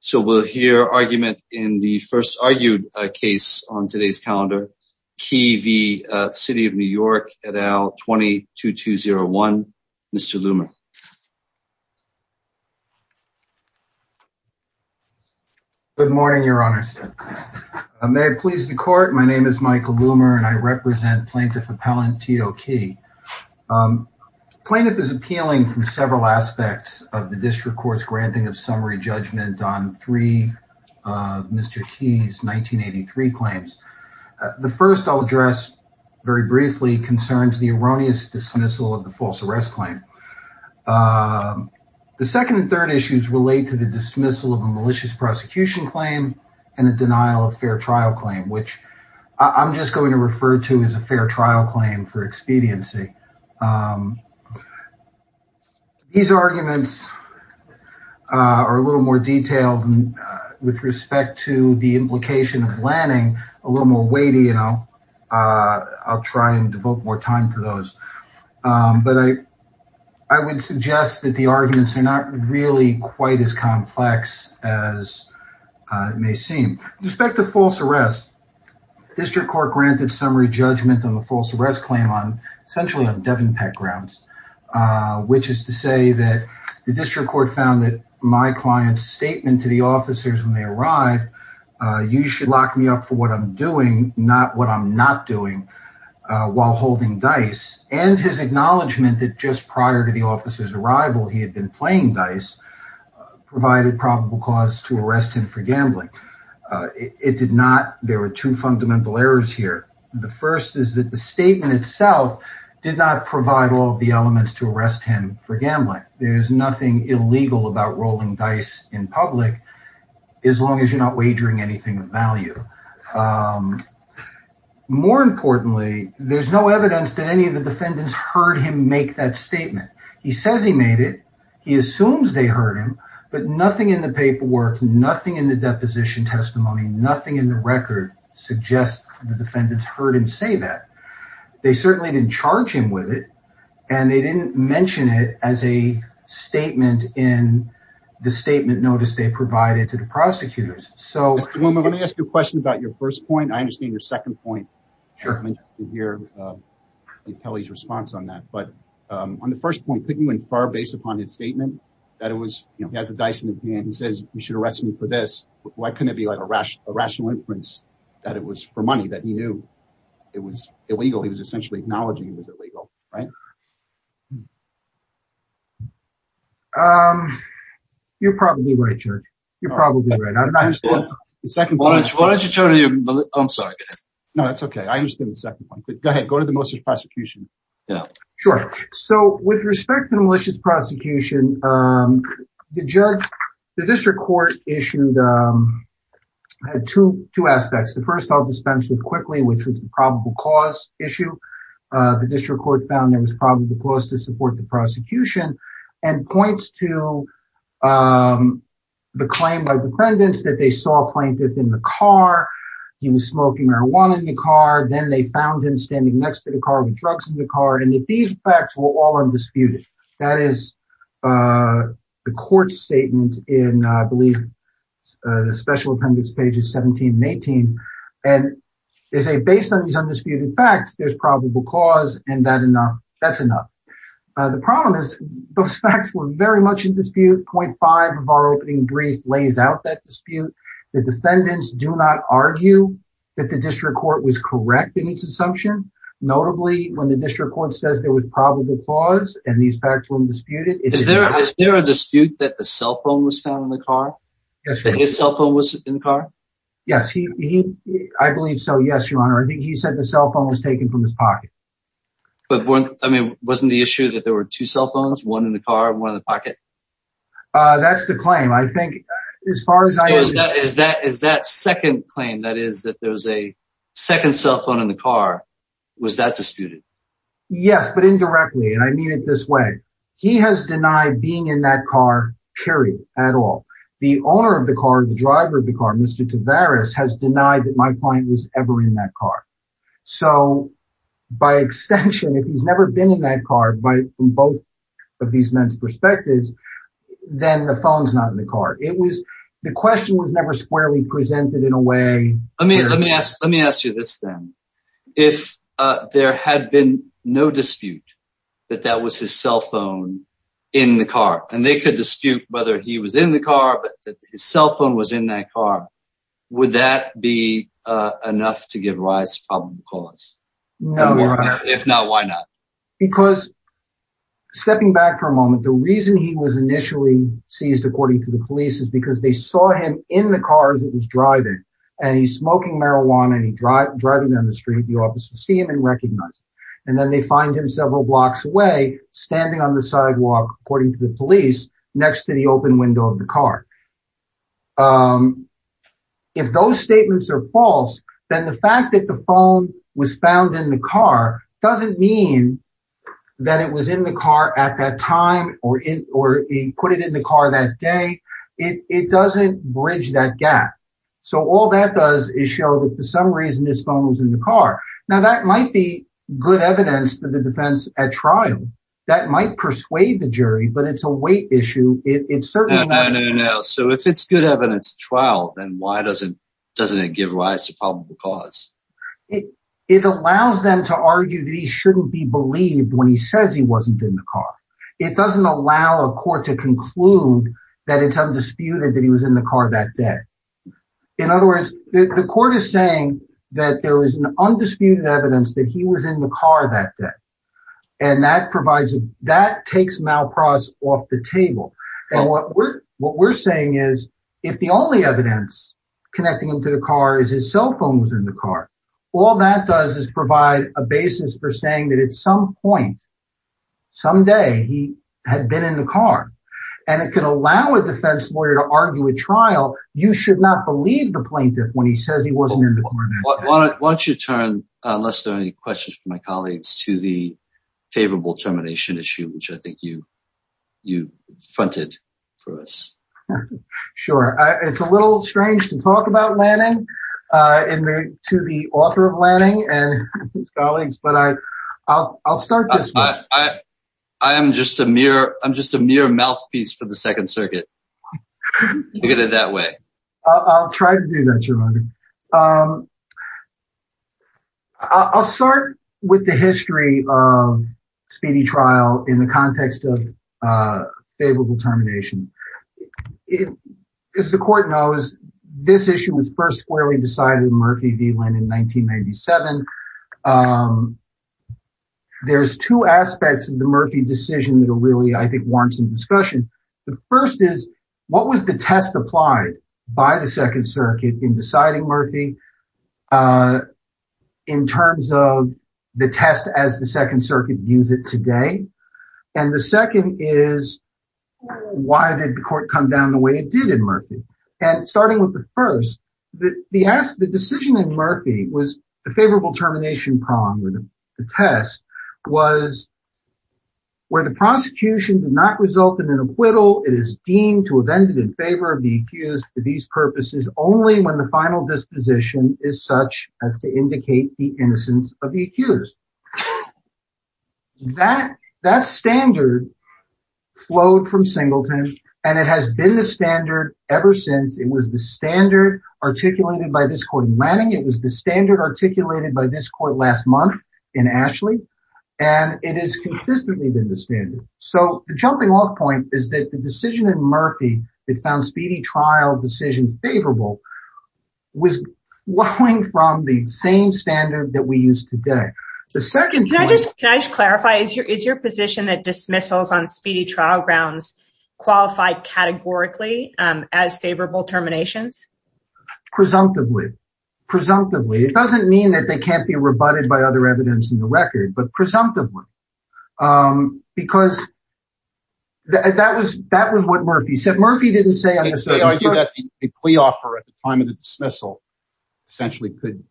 So we'll hear argument in the first argued case on today's calendar. Kee v. The City of New York et al. 22201. Mr. Loomer. Good morning, your honors. May it please the court, my name is Michael Loomer and I represent plaintiff appellant Tito Kee. Plaintiff is appealing from several three Mr. Kee's 1983 claims. The first I'll address very briefly concerns the erroneous dismissal of the false arrest claim. The second and third issues relate to the dismissal of a malicious prosecution claim and a denial of fair trial claim, which I'm just going to refer to as with respect to the implication of Lanning, a little more weighty, you know. I'll try and devote more time to those. But I would suggest that the arguments are not really quite as complex as it may seem. With respect to false arrest, district court granted summary judgment on the false arrest claim on essentially on Devin Peck grounds, which is to say that the district court found that my client's statement to the officers when they arrive, you should lock me up for what I'm doing, not what I'm not doing, while holding dice and his acknowledgement that just prior to the officer's arrival, he had been playing dice, provided probable cause to arrest him for gambling. It did not. There were two fundamental errors here. The first is that the statement itself did not provide all the elements to arrest him for gambling. There's nothing illegal about rolling dice in public as long as you're not wagering anything of value. More importantly, there's no evidence that any of the defendants heard him make that statement. He says he made it. He assumes they heard him, but nothing in the paperwork, nothing in the deposition testimony, nothing in the record suggests the defendants heard him say that. They certainly didn't charge him with it, and they didn't mention it as a statement in the statement notice they provided to the prosecutors. So let me ask you a question about your first point. I understand your second point here. Kelly's response on that, but on the first point, couldn't you infer based upon his statement that it was, you know, he has a dice in his hand. He says you should arrest me for this. Why couldn't it be like a rational inference that it was for money, that he knew it was illegal? He was essentially acknowledging it was illegal, right? You're probably right, Judge. You're probably right. I'm not sure what the second point is. Why don't you turn to your, I'm sorry. No, that's okay. I understand the second point, but go ahead. Go to the malicious prosecution. Yeah, sure. So with respect to the malicious prosecution, the district court issued two aspects. The first I'll dispense with quickly, which was the probable cause issue. The district court found there was probable cause to support the prosecution and points to the claim by defendants that they saw a plaintiff in the car. He was smoking marijuana in the car. Then they found him standing next to the car with drugs in and that these facts were all undisputed. That is the court's statement in, I believe, the special appendix pages 17 and 18. And they say based on these undisputed facts, there's probable cause and that's enough. The problem is those facts were very much in dispute. Point five of our opening brief lays out that dispute. The defendants do not argue that the court says there was probable cause and these facts were undisputed. Is there a dispute that the cell phone was found in the car? Yes. That his cell phone was in the car? Yes. I believe so. Yes, your honor. I think he said the cell phone was taken from his pocket. But wasn't the issue that there were two cell phones, one in the car, one in the pocket? That's the claim. I think as far as I understand. Is that second claim, that is that there was a second cell phone in the car, was that disputed? Yes, but indirectly. And I mean it this way. He has denied being in that car, period, at all. The owner of the car, the driver of the car, Mr. Tavares has denied that my client was ever in that car. So by extension, if he's never been in that car by both of these men's perspectives, then the phone's not in the car. It was the question was never squarely presented in a way. Let me ask you this then. If there had been no dispute that that was his cell phone in the car, and they could dispute whether he was in the car, but that his cell phone was in that car, would that be enough to give Rice a probable cause? No, your honor. If not, why not? Because stepping back for a moment, the reason he was initially seized according to the police is they saw him in the car as he was driving. And he's smoking marijuana, and he's driving down the street. The officers see him and recognize him. And then they find him several blocks away, standing on the sidewalk, according to the police, next to the open window of the car. If those statements are false, then the fact that the phone was found in the car doesn't mean that it was in the car at that time, or he put it in the car that day. It doesn't bridge that gap. So all that does is show that for some reason, his phone was in the car. Now, that might be good evidence to the defense at trial. That might persuade the jury, but it's a weight issue. So if it's good evidence trial, then why doesn't it give Rice a probable cause? It allows them to argue that he shouldn't be believed when he says he wasn't in the car. It doesn't allow a court to conclude that it's undisputed that he was in the car that day. In other words, the court is saying that there was an undisputed evidence that he was in the car that day. And that takes Malpras off the table. And what we're saying is, if the only all that does is provide a basis for saying that at some point, someday he had been in the car, and it can allow a defense lawyer to argue a trial, you should not believe the plaintiff when he says he wasn't in the car that day. Why don't you turn, unless there are any questions from my colleagues, to the favorable termination issue, which I think you fronted for Sure. It's a little strange to talk about Lanning to the author of Lanning and his colleagues, but I'll start this way. I'm just a mere mouthpiece for the Second Circuit. Look at it that way. I'll try to do that, Your Honor. I'll start with the history of speedy trial in the context of favorable termination. It, as the court knows, this issue was first squarely decided in Murphy v. Linn in 1997. There's two aspects of the Murphy decision that are really, I think, warrant some discussion. The first is, what was the test applied by the Second Circuit in deciding Murphy in terms of the test as the Second Circuit views it today? And the second is, why did the court come down the way it did in Murphy? And starting with the first, the decision in Murphy was the favorable termination prong, or the test, was where the prosecution did not result in an acquittal, it is deemed to have ended in favor of the accused for these purposes only when the final disposition is such as to indicate the innocence of the singleton. And it has been the standard ever since. It was the standard articulated by this court in Lanning. It was the standard articulated by this court last month in Ashley. And it has consistently been the standard. So the jumping off point is that the decision in Murphy that found speedy trial decisions favorable was flowing from the same standard that we use today. The second point... Can I just clarify, is your position that dismissals on speedy trial grounds qualify categorically as favorable terminations? Presumptively. Presumptively. It doesn't mean that they can't be rebutted by other evidence in the record, but presumptively. Because that was what Murphy said. Murphy didn't say... The plea offer at the time of the dismissal essentially could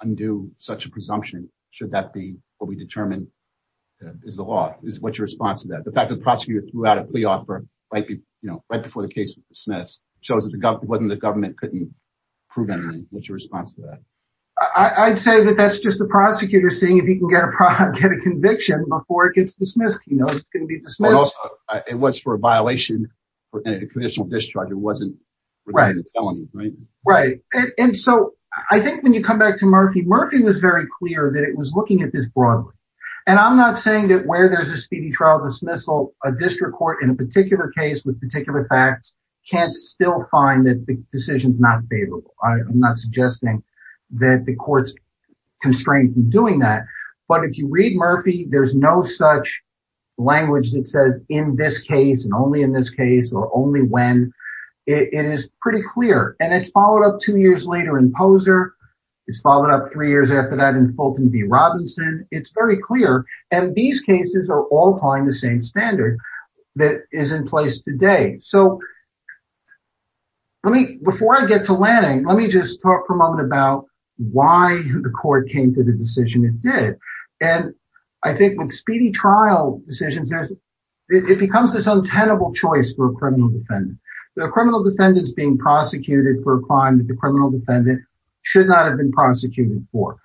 undo such a presumption, should that be what we determine is the law. What's your response to that? The fact that the prosecutor threw out a plea offer right before the case was dismissed shows that the government couldn't prove anything. What's your response to that? I'd say that that's just the prosecutor seeing if he can get a conviction before it gets dismissed. He knows it's going to be dismissed. It was for a violation, a conditional discharge. It wasn't... I think when you come back to Murphy, Murphy was very clear that it was looking at this broadly. I'm not saying that where there's a speedy trial dismissal, a district court in a particular case with particular facts can't still find that the decision's not favorable. I'm not suggesting that the court's constrained from doing that, but if you read Murphy, there's no such language that says in this case and only in this case or only when. It is pretty clear and it's followed up two years later in Poser. It's followed up three years after that in Fulton v. Robinson. It's very clear and these cases are all applying the same standard that is in place today. Before I get to Lanning, let me just talk for a moment about why the court came to the decision it did. I think with speedy trial decisions, it becomes this untenable choice for a criminal defendant. The criminal defendant's being prosecuted for a crime that the criminal defendant should not have been prosecuted for.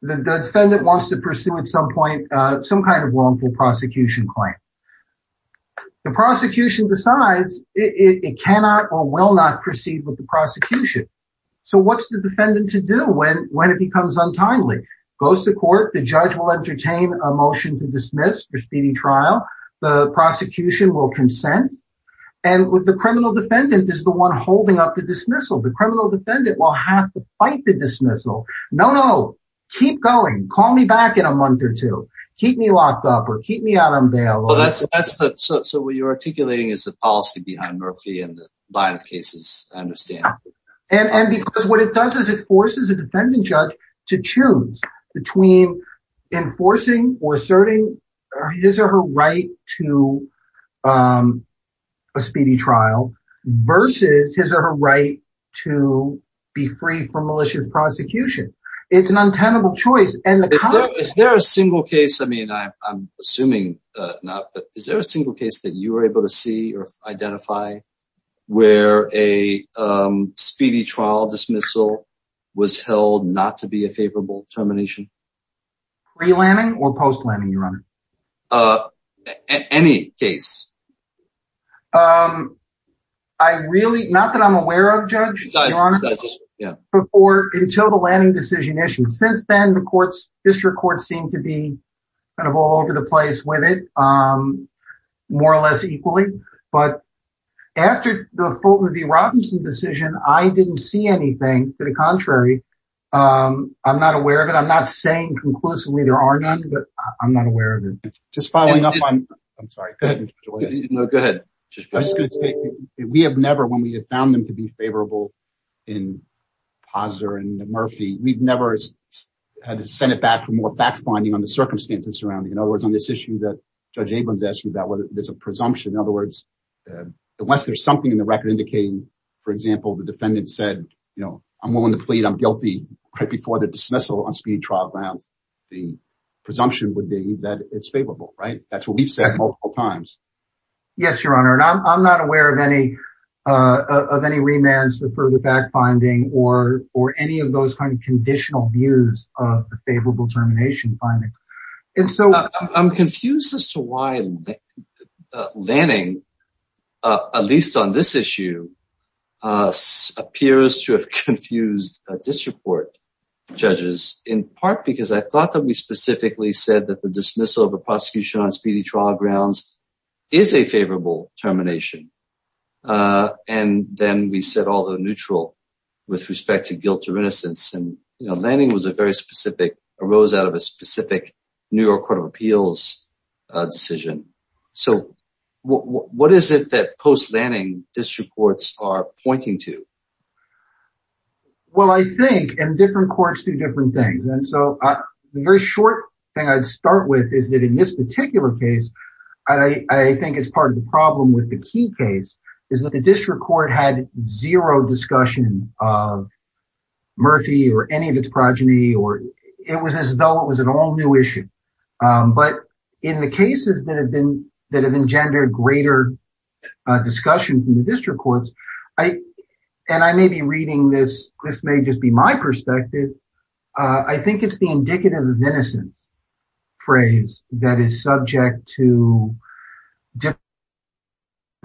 The defendant wants to pursue at some point some kind of wrongful prosecution claim. The prosecution decides it cannot or will not proceed with the prosecution. So what's the defendant to do when it becomes untimely? Goes to court, the judge will entertain a motion to speedy trial, the prosecution will consent, and the criminal defendant is the one holding up the dismissal. The criminal defendant will have to fight the dismissal. No, no, keep going. Call me back in a month or two. Keep me locked up or keep me out on bail. So what you're articulating is the policy behind Murphy and the line of cases, I understand. And because what it does is it gives her her right to a speedy trial versus his or her right to be free from malicious prosecution. It's an untenable choice. Is there a single case that you were able to see or identify where a speedy trial dismissal was held not to be a favorable termination? Pre-landing or post-landing, Your Honor? Any case. I really, not that I'm aware of, Judge, before until the landing decision issue. Since then, the courts, district courts seem to be kind of all over the place with it, more or less equally. But after the Fulton v. Robinson decision, I didn't see anything. To the contrary, I'm not aware of it. I'm not saying conclusively there are none, but I'm not aware of it. Just following up on, I'm sorry. Go ahead. We have never, when we have found them to be favorable in Pazzer and Murphy, we've never had to send it back for more fact-finding on the circumstances surrounding. In other words, on this issue that Judge Abrams asked you about, whether there's a presumption. In other words, unless there's something in the record indicating, for example, the defendant said, I'm willing to plead, I'm guilty, right before the dismissal on speeding trial grounds, the presumption would be that it's favorable, right? That's what we've said multiple times. Yes, Your Honor. And I'm not aware of any remands or further fact-finding or any of those kind of conditional views of the favorable termination findings. And so- I'm confused as to why Lanning, at least on this issue, appears to have confused disreport judges, in part because I thought that we specifically said that the dismissal of a prosecution on speedy trial grounds is a favorable termination. And then we said, although neutral with respect to guilt or innocence, and Lanning was a very specific, arose out of a specific New York Court of Appeals decision. So what is it that post-Lanning district courts are pointing to? Well, I think, and different courts do different things. And so the very short thing I'd start with is that in this particular case, I think it's part of the problem with the key case is that the district court had zero discussion of Murphy or any of the other cases. It was as though it was an all-new issue. But in the cases that have been, that have engendered greater discussion from the district courts, and I may be reading this, this may just be my perspective. I think it's the indicative of innocence phrase that is subject to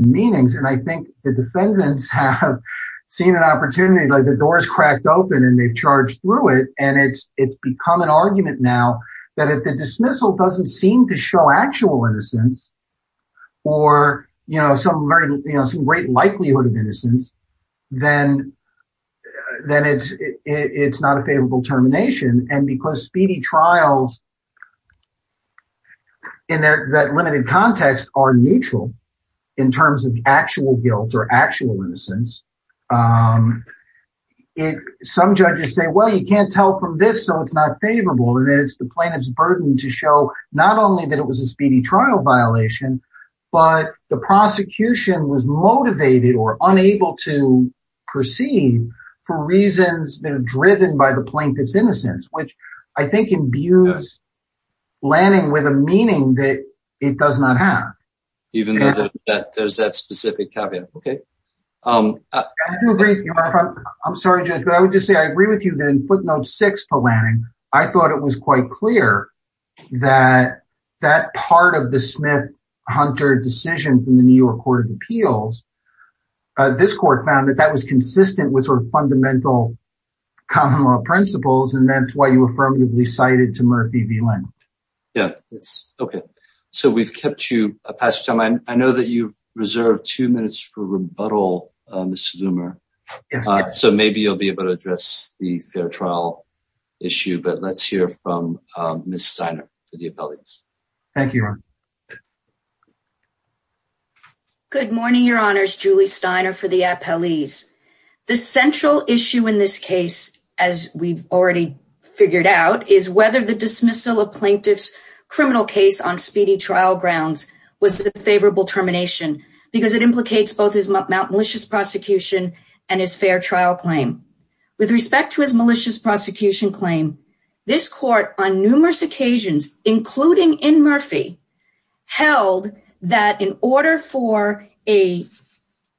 meanings. And I think the defendants have seen an opportunity, like the door is cracked open and they've charged through it. And it's become an argument now that if the dismissal doesn't seem to show actual innocence or some great likelihood of innocence, then it's not a favorable termination. And because speedy trials in that limited context are neutral in terms of you can't tell from this, so it's not favorable. And then it's the plaintiff's burden to show not only that it was a speedy trial violation, but the prosecution was motivated or unable to perceive for reasons that are driven by the plaintiff's innocence, which I think imbues Lanning with a meaning that it does not have. Even though there's that specific caveat. Okay. I do agree. I'm sorry, Judge, but I would just say I agree with you that in footnote six for Lanning, I thought it was quite clear that that part of the Smith-Hunter decision from the New York Court of Appeals, this court found that that was consistent with sort of fundamental common law principles, and that's why you affirmatively cited to Murphy v. Lanning. Yeah, it's okay. So we've kept you, I know that you've reserved two minutes for rebuttal Mr. Loomer. So maybe you'll be able to address the fair trial issue, but let's hear from Ms. Steiner for the appellees. Thank you, Ron. Good morning, Your Honors. Julie Steiner for the appellees. The central issue in this case, as we've already figured out, is whether the dismissal of plaintiff's criminal case on speedy prosecution and his fair trial claim. With respect to his malicious prosecution claim, this court on numerous occasions, including in Murphy, held that in order for a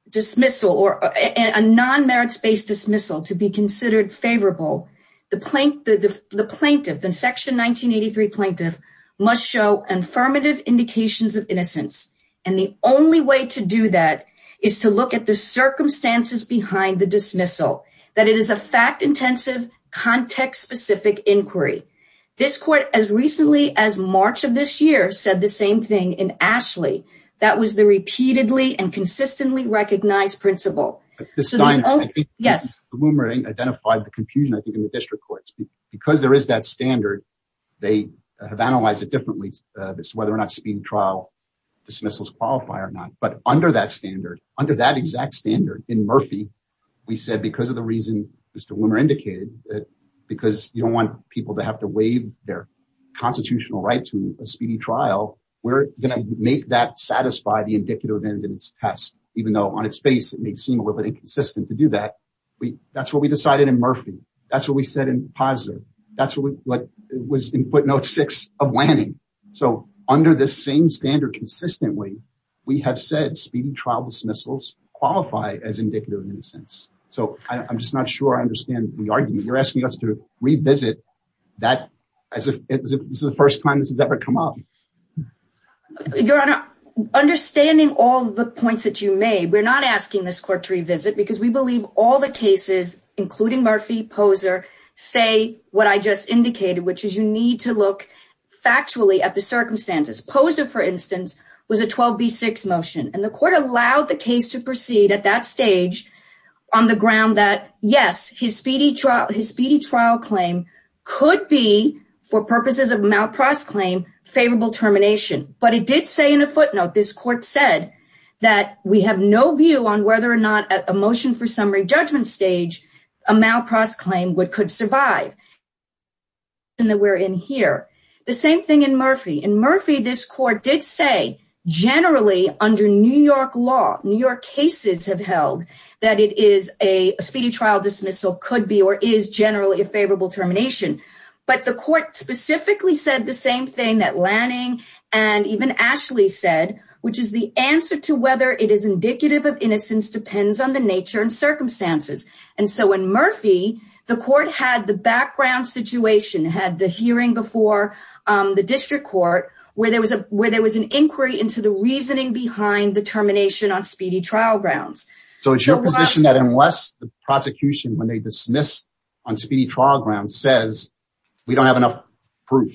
dismissal or a non-merits-based dismissal to be considered favorable, the plaintiff, the section 1983 plaintiff, must show affirmative indications of innocence. And the only way to do that is to look at the circumstances behind the dismissal, that it is a fact-intensive, context-specific inquiry. This court, as recently as March of this year, said the same thing in Ashley. That was the repeatedly and consistently recognized principle. Yes. Loomer identified the confusion, I think, in the district courts. Because there is that standard, they have analyzed it differently, whether or not speeding trial dismissals qualify or not. But under that standard, under that exact standard, in Murphy, we said, because of the reason Mr. Loomer indicated, because you don't want people to have to waive their constitutional right to a speedy trial, we're going to make that satisfy the indicative evidence test, even though on its face it may seem a little bit inconsistent to do that. That's what we decided in Murphy. That's what we said in Pazzo. That's what was in footnote six of Lanning. So under the same standard, consistently, we have said speeding trial dismissals qualify as indicative in a sense. So I'm just not sure I understand the argument. You're asking us to revisit that as if this is the first time this has ever come up. Your Honor, understanding all the points that you made, we're not asking this court to revisit because we believe all the cases, including Murphy, Poser, say what I just indicated, which is you need to look factually at the circumstances. Poser, for instance, was a 12B6 motion. And the court allowed the case to proceed at that stage on the ground that, yes, his speedy trial claim could be, for purposes of malprost claim, favorable termination. But it did say in a footnote, this court said, that we have no view on whether or not at a motion for summary judgment stage, a malprost claim could survive. The same thing in Murphy. In Murphy, this court did say generally under New York law, New York cases have held that it is a speedy trial dismissal could be or is generally a favorable termination. But the court specifically said the same thing that Lanning and even Ashley said, which is the answer to whether it is indicative of innocence depends on the nature and circumstances. And so in Murphy, the court had the background situation, had the hearing before the district court where there was an inquiry into the reasoning behind the termination on speedy trial grounds. So it's your position that unless the prosecution, when they dismiss on speedy trial grounds, says we don't have enough proof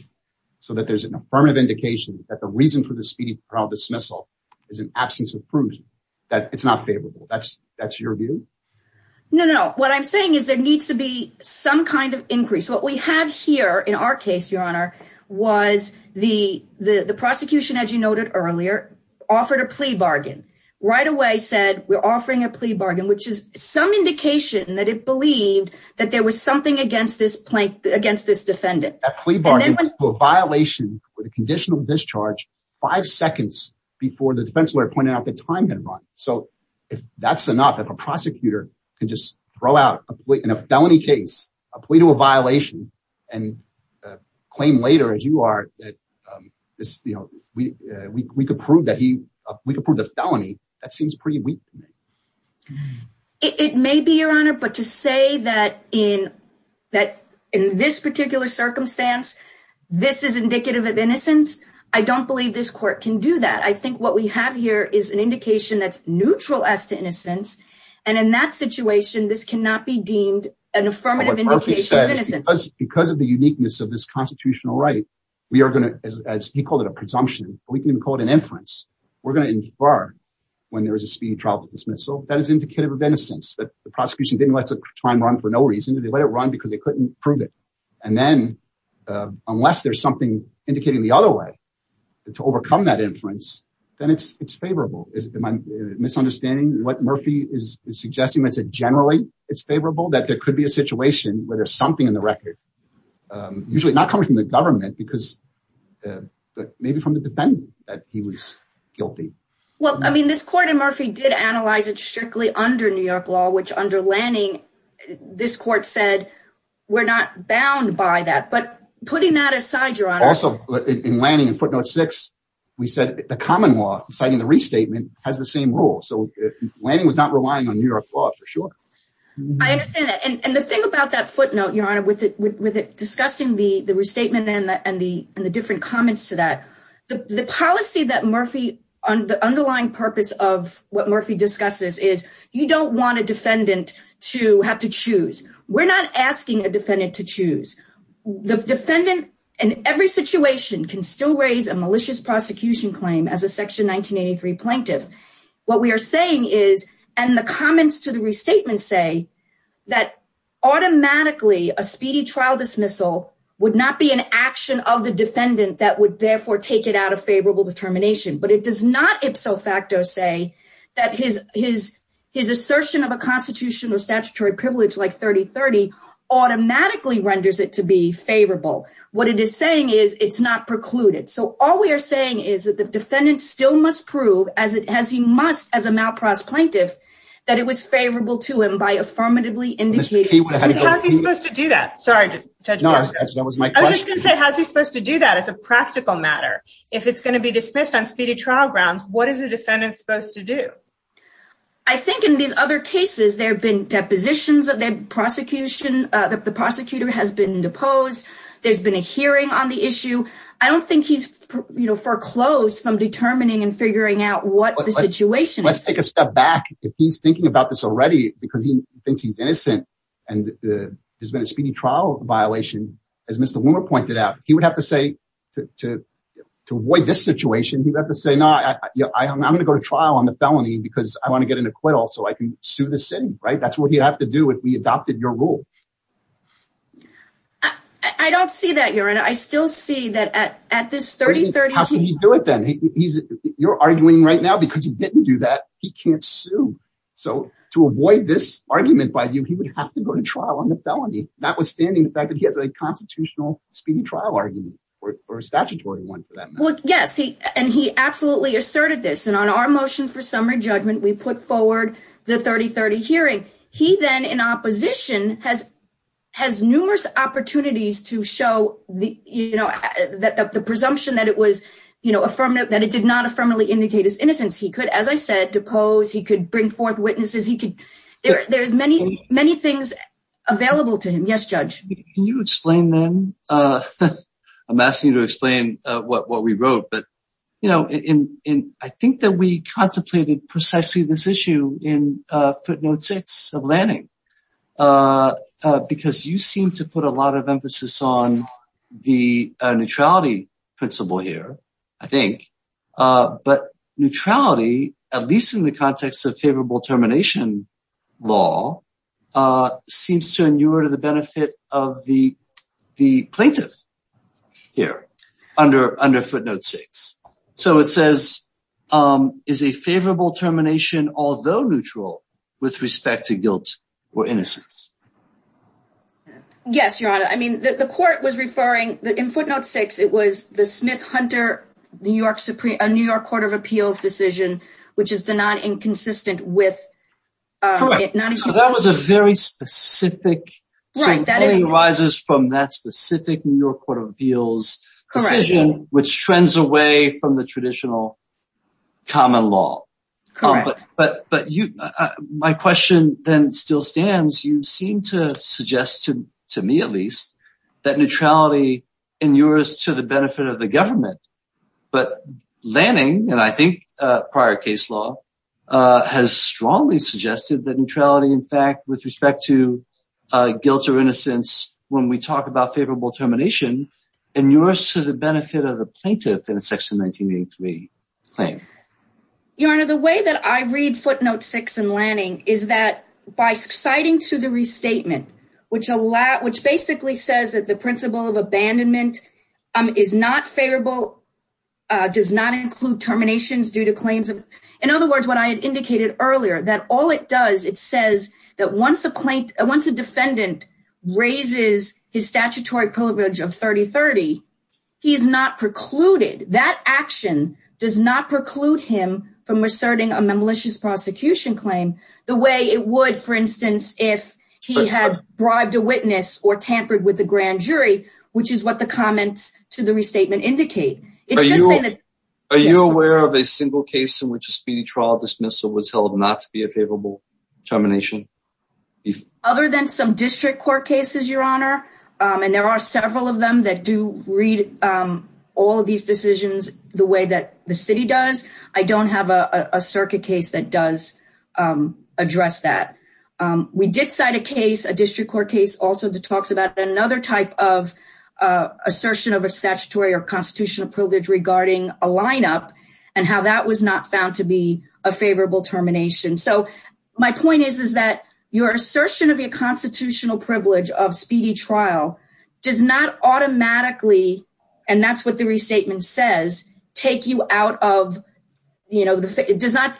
so that there's an affirmative indication that the reason for the speedy trial dismissal is an absence of proof, that it's not favorable. That's your view? No, no. What I'm saying is there needs to be some kind of increase. What we have here in our case, Your Honor, was the prosecution, as you noted earlier, offered a plea bargain. Right away said we're offering a plea bargain, which is some indication that it believed that there was something against this plaintiff, against this defendant. That plea bargain was a violation with a conditional discharge five seconds before the defense lawyer pointed out the time had run. So if that's enough, if a prosecutor can just throw out in a felony case a plea to a violation and claim later, as you are, that we could prove the felony, that seems pretty weak. It may be, Your Honor, but to say that in this particular circumstance, this is indicative of innocence, I don't believe this court can do that. I think what we have here is an indication that's neutral as to innocence, and in that situation, this cannot be deemed an affirmative indication of innocence. Because of the uniqueness of this constitutional right, we are going to, as he called it a presumption, we can even call it an inference. We're going to infer when there is a speedy trial dismissal that is indicative of innocence, that the prosecution didn't let the time run for no reason. They let it run because they couldn't prove it. And then, unless there's something indicating the other way to overcome that inference, then it's favorable. Am I misunderstanding what Murphy is suggesting? Is it generally it's favorable that there could be a situation where there's something in the record, usually not coming from the government, but maybe from the defendant that he was guilty? Well, I mean, this court and Murphy did analyze it strictly under New York law, which under Lanning, this court said, we're not bound by that. But putting that aside, also in Lanning in footnote six, we said the common law, citing the restatement, has the same rule. So Lanning was not relying on New York law for sure. I understand that. And the thing about that footnote, Your Honor, with it discussing the restatement and the different comments to that, the policy that Murphy, the underlying purpose of what Murphy discusses is, you don't want a defendant to have to choose. We're not asking a defendant to choose. The defendant in every situation can still raise a malicious prosecution claim as a section 1983 plaintiff. What we are saying is, and the comments to the restatement say, that automatically a speedy trial dismissal would not be an action of the defendant that would therefore take it out of favorable determination. But it does not ipso facto say that his assertion of a constitutional statutory privilege like 3030 automatically renders it to be favorable. What it is saying is it's not precluded. So all we are saying is that the defendant still must prove as it has, he must, as a malprause plaintiff, that it was favorable to him by affirmatively indicating. How's he supposed to do that? Sorry. That was my question. How's he supposed to do that as a practical matter? If it's going to be dismissed on speedy trial grounds, what is a defendant supposed to do? I think in these other cases, there have been depositions of the prosecution, that the prosecutor has been deposed. There's been a hearing on the issue. I don't think he's foreclosed from determining and figuring out what the situation is. Let's take a step back. If he's thinking about this already because he thinks he's innocent and there's been a speedy trial violation, as Mr. Wimmer pointed out, he would have to say to avoid this situation, he'd have to say, no, I'm going to go to trial on the felony because I want to get an acquittal so I can sue the city. That's what he'd have to do if we adopted your rule. I don't see that, Your Honor. I still see that at this 3030... How can he do it then? You're arguing right now because he didn't do that. He can't sue. So to avoid this argument by you, he would have to go to trial on the felony, notwithstanding the fact that he has a constitutional speedy trial argument or a statutory one for that matter. Yes. And he absolutely asserted this. And on our motion for summary judgment, we put forward the 3030 hearing. He then in opposition has numerous opportunities to show the presumption that it did not affirmatively indicate his innocence. He could, as I said, depose. He could bring forth witnesses. There's many, many things available to him. Yes, Judge. Can you explain them? I'm asking you to explain what we wrote. But, you know, I think that we contemplated precisely this issue in footnote six of Lanning because you seem to put a lot of emphasis on the neutrality principle here, I think. But neutrality, at least in the context of favorable termination law, seems to inure to the benefit of the plaintiff here under footnote six. So it says, is a favorable termination, although neutral with respect to guilt or innocence? Yes, Your Honor. I mean, the court was referring, in footnote six, it was the Smith-Hunter New York Supreme, a New York Court of Appeals decision, which is the non-inconsistent with it. Correct. So that was a very specific, so it only arises from that specific New York Court of Appeals decision, which trends away from the traditional common law. But you, my question then still stands, you seem to suggest, to me at least, that neutrality inures to the benefit of the government. But Lanning, and I think prior case law, has strongly suggested that neutrality, in fact, with respect to guilt or innocence, when we talk about favorable termination, inures to the benefit of the plaintiff in section 1983 claim. Your Honor, the way that I read footnote six in Lanning is that by citing to the restatement, which basically says that the principle of abandonment is not favorable, does not include terminations due to claims of... In other words, what I had indicated earlier, that all it does, it says that once a defendant raises his statutory privilege of 30-30, he's not precluded. That action does not preclude him from asserting a malicious prosecution claim the way it would, for instance, if he had bribed a witness or tampered with the grand jury, which is what the comments to the restatement indicate. Are you aware of a single case in which a speedy trial dismissal was held not to be a favorable termination? Other than some district court cases, Your Honor, and there are several of them that do read all of these decisions the way that the city does. I don't have a circuit case that does address that. We did cite a case, a district court case also that talks about another type of assertion of a statutory or constitutional privilege regarding a lineup and how that was not found to be a favorable termination. So my point is, is that your assertion of your and that's what the restatement says, take you out of, you know, it does not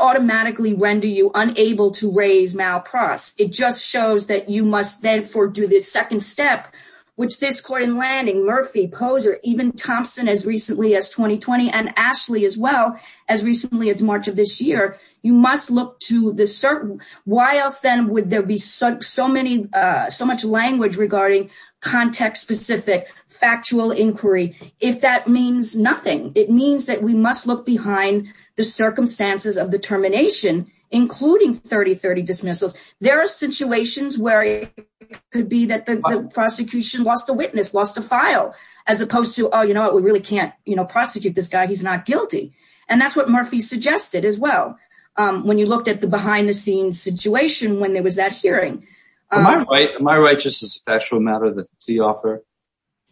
automatically render you unable to raise malprause. It just shows that you must then for do the second step, which this court in Lanning, Murphy, Poser, even Thompson as recently as 2020 and Ashley as well, as recently as March of this year, you must look to the certain, why else then would there be so many, so much language regarding context-specific factual inquiry? If that means nothing, it means that we must look behind the circumstances of the termination, including 30-30 dismissals. There are situations where it could be that the prosecution lost a witness, lost a file, as opposed to, oh, you know what, we really can't, you know, prosecute this guy, he's not guilty. And that's what Murphy suggested as well. When you looked at the behind the scenes situation, when there was that hearing. Am I right, just as a factual matter, that the plea offer,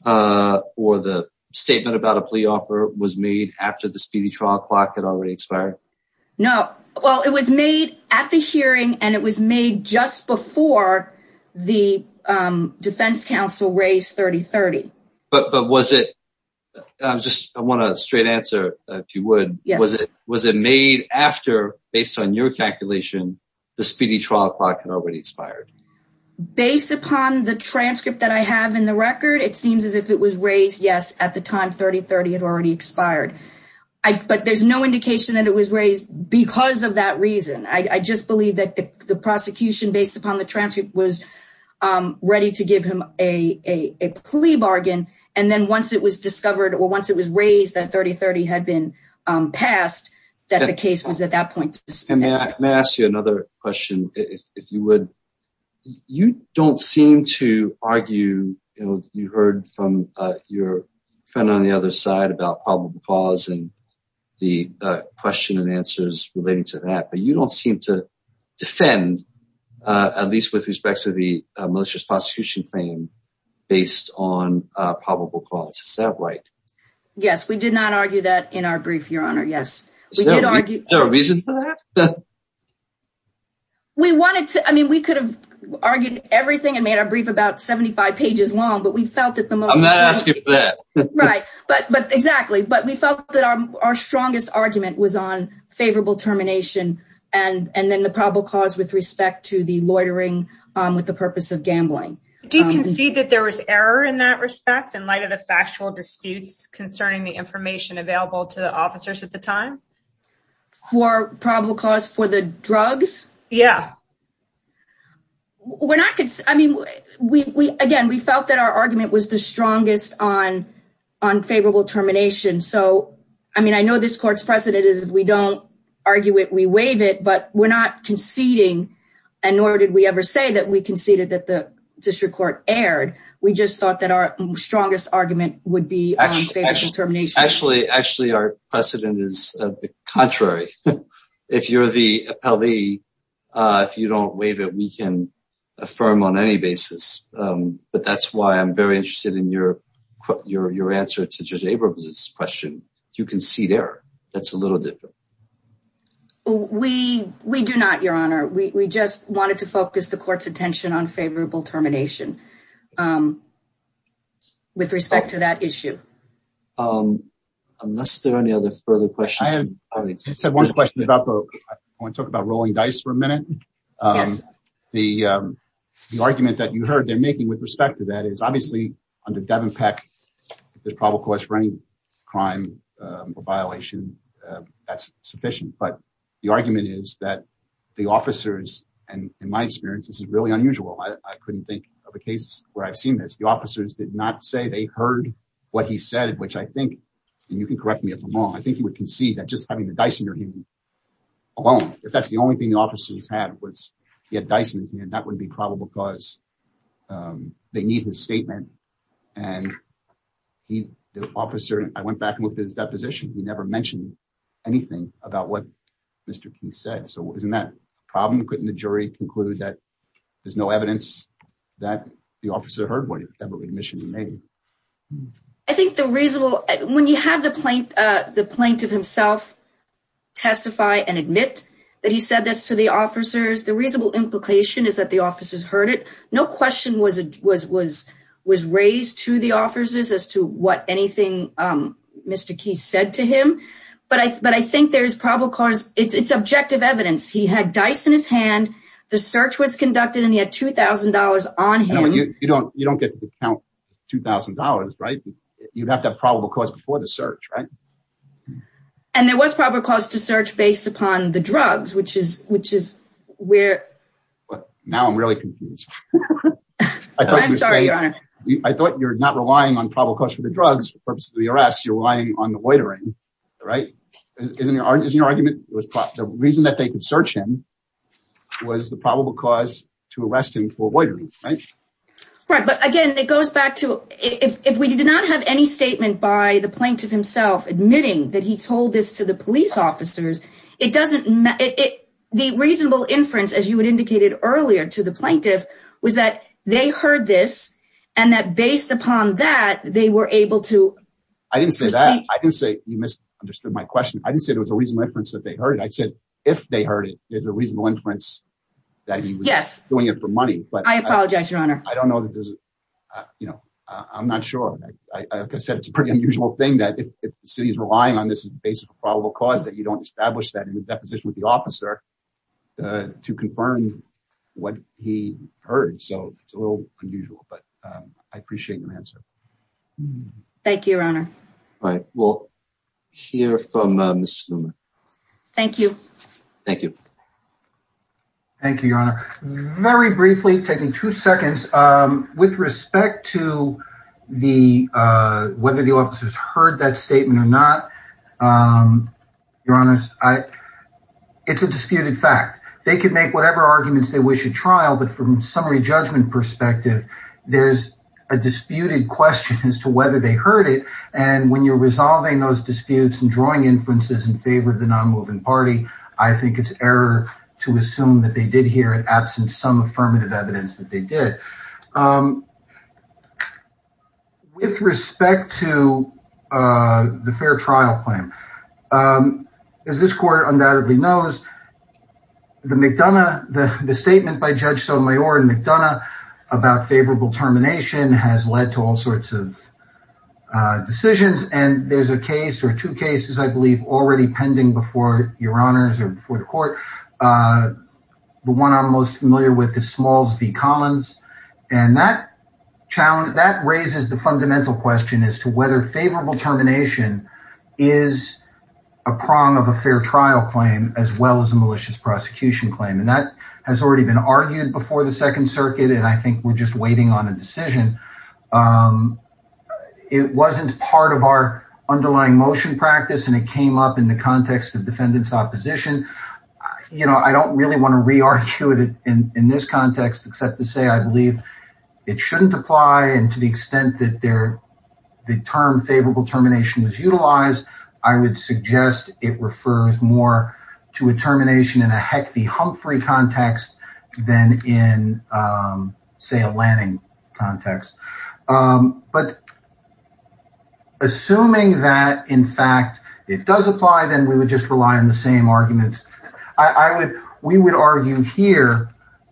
or the statement about a plea offer was made after the speedy trial clock had already expired? No. Well, it was made at the hearing and it was made just before the defense counsel raised 30-30. But was it, just I want a straight answer, if you would, was it, was it made after, based on your calculation, the speedy trial clock had already expired? Based upon the transcript that I have in the record, it seems as if it was raised, yes, at the time 30-30 had already expired. But there's no indication that it was raised because of that reason. I just believe that the prosecution, based upon the transcript, was ready to give him a plea bargain. And then once it was discovered, or once it was raised that 30-30 had been passed, that the case was at that point dismissed. And may I ask you another question, if you would? You don't seem to argue, you know, you heard from your friend on the other side about probable cause and the question and answers relating to that. But you don't seem to defend, at least with respect to the malicious prosecution claim, based on probable cause. Is that right? Yes, we did not argue that in our brief, Your Honor, yes. Is there a reason for that? We wanted to, I mean, we could have argued everything and made our brief about 75 pages long, but we felt that the most... I'm not asking for that. Right, but exactly. But we felt that our strongest argument was on favorable termination and then the probable cause with respect to the loitering with the purpose of gambling. Do you concede that there was error in that respect in light of the factual disputes concerning the information available to the officers at the time? For probable cause for the drugs? Yeah. We're not... I mean, again, we felt that our argument was the strongest on unfavorable termination. So, I mean, I know this court's precedent is if we don't argue it, we waive it, but we're not conceding, and nor did we ever say that we conceded that district court erred. We just thought that our strongest argument would be on favorable termination. Actually, our precedent is the contrary. If you're the appellee, if you don't waive it, we can affirm on any basis. But that's why I'm very interested in your answer to Judge Abrams's question. Do you concede error? That's a little different. We do not, Your Honor. We just wanted to focus the court's attention on favorable termination with respect to that issue. Unless there are any other further questions. I have one question about the... I want to talk about rolling dice for a minute. Yes. The argument that you heard they're making with respect to that is, obviously, under Devin Peck, there's probable cause for any crime or violation. That's sufficient. But the argument is that the officers, and in my experience, this is really unusual. I couldn't think of a case where I've seen this. The officers did not say they heard what he said, which I think, and you can correct me if I'm wrong, I think he would concede that just having the Dyson or him alone, if that's the only thing the officers had was he had Dyson, that would be probable cause. They need his statement. And the officer, I went back and looked at his deposition. He never mentioned anything about what Mr. King said. So isn't that a problem? Couldn't the jury conclude that there's no evidence that the officer heard whatever admission he made? I think the reasonable... When you have the plaintiff himself testify and admit that he said this to the officers, the reasonable implication is that the officers heard it. No question was raised to the officers as to what anything Mr. King said to him. But I think there's probable cause. It's objective evidence. He had Dyson in his hand. The search was conducted and he had $2,000 on him. You don't get to count $2,000, right? You'd have to have probable cause before the search, right? And there was probable cause to search based upon the drugs, which is where... Now I'm really confused. I'm sorry, Your Honor. I thought you're not relying on probable cause for the drugs for purposes of the arrest. You're relying on the loitering, right? Isn't your argument the reason that they could search him was the probable cause to arrest him for loitering, right? Right. But again, it goes back to... If we did not have any statement by the plaintiff himself admitting that he told this to the police officers, it doesn't... The reasonable inference, as you had indicated earlier to the plaintiff, was that they heard this and that based upon that, they were able to... I didn't say that. I didn't say... You misunderstood my question. I didn't say there was a reasonable inference that they heard it. I said, if they heard it, there's a reasonable inference that he was doing it for money. Yes. I apologize, Your Honor. I don't know that there's... I'm not sure. Like I said, it's a pretty unusual thing that if the city is relying on this as the basis of probable cause that you don't establish that in the deposition with the officer to confirm what he heard. So it's a little unusual, but I appreciate the answer. Thank you, Your Honor. All right. We'll hear from Ms. Sluman. Thank you. Thank you. Thank you, Your Honor. Very briefly, taking two seconds, with respect to whether the officers heard that statement or not, Your Honor, it's a disputed fact. They could make whatever arguments they wish at trial, but from a summary judgment perspective, there's a disputed question as to whether they heard it. And when you're resolving those disputes and drawing inferences in favor of the non-moving party, I think it's error to assume that they did hear it absent some affirmative evidence that they did. With respect to the fair trial claim, as this court undoubtedly knows, the McDonough... the statement by Judge Sotomayor in McDonough about favorable termination has led to all sorts of decisions. And there's a case or two cases, I believe, already pending before Your Honors or before the court. The one I'm most familiar with is Smalls v. Collins, and that raises the fundamental question as to whether favorable termination is a prong of a fair trial claim as well as a malicious prosecution claim. And that has already been argued before the Second Circuit, and I think we're just waiting on a decision. It wasn't part of our underlying motion practice, and it came up in the context of defendant's It shouldn't apply, and to the extent that the term favorable termination was utilized, I would suggest it refers more to a termination in a Heck the Humphrey context than in, say, a Lanning context. But assuming that, in fact, it does apply, then we would just rely on the same arguments. We would argue here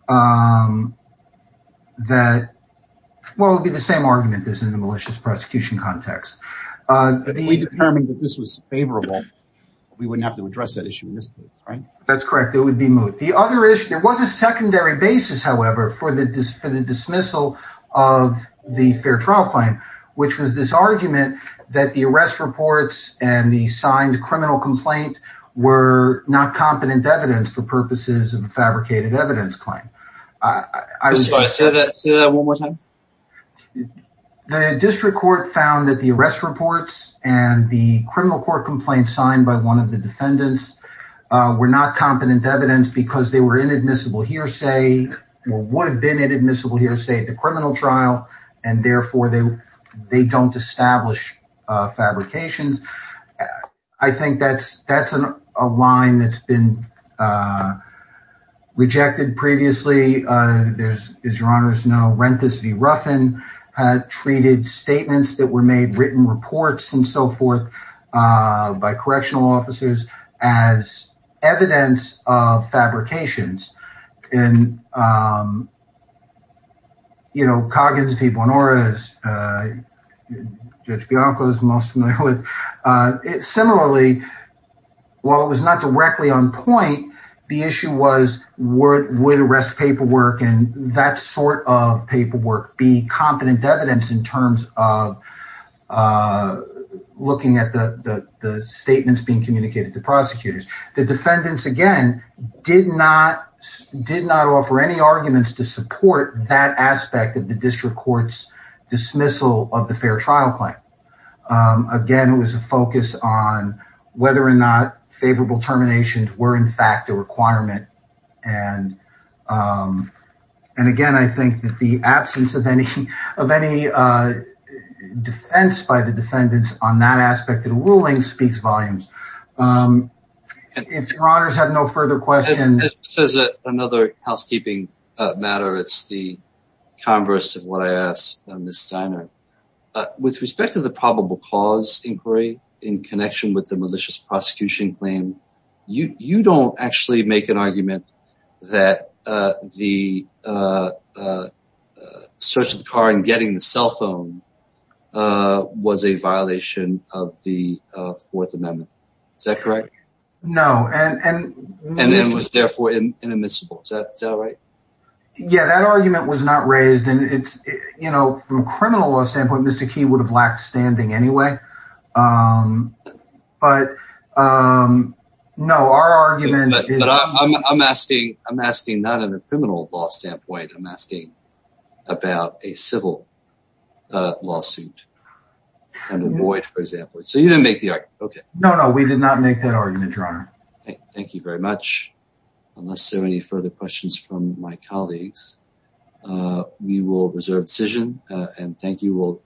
that, well, it would be the same argument as in the malicious prosecution context. If we determined that this was favorable, we wouldn't have to address that issue in this case, right? That's correct. It would be moot. The other issue, there was a secondary basis, however, for the dismissal of the fair trial claim, which was this argument that the arrest reports and the signed criminal complaint were not competent evidence for purposes of a fabricated evidence claim. The district court found that the arrest reports and the criminal court complaint signed by one of the defendants were not competent evidence because they were inadmissible hearsay or would have been inadmissible hearsay at the criminal trial, and therefore, they don't establish fabrications. I think that's a line that's been rejected previously. As your honors know, Renthis v. Ruffin had treated statements that were made, written reports and so forth by correctional officers as evidence of fabrications. Coggins v. Bonoras and Judge Bianco is most familiar with it. Similarly, while it was not directly on point, the issue was would arrest paperwork and that sort of paperwork be competent evidence in terms of looking at the statements being communicated to prosecutors. The defendants, again, did not offer any arguments to support that aspect of the district court's dismissal of the fair trial claim. Again, it was a focus on whether or not favorable terminations were, in fact, a requirement. And again, I think that the absence of any defense by the defendants on that aspect of the ruling speaks volumes. If your honors have no further questions. As another housekeeping matter, it's the converse of what I asked Ms. Steiner. With respect to the probable cause inquiry in connection with the malicious prosecution claim, you don't actually make an argument that the search of the car and getting the cell phone was a violation of the Fourth Amendment. Is that correct? No. And it was therefore inadmissible. Is that right? Yeah, that argument was not raised. And it's, you know, from a criminal law standpoint, Mr. Key would have lacked standing anyway. But no, our argument is that I'm asking. I'm asking not in a criminal law standpoint. I'm asking about a civil lawsuit and a void, for example. So you didn't make the argument. No, no, we did not make that argument, your honor. Thank you very much. Unless there are any further questions from my colleagues, we will reserve decision and thank you.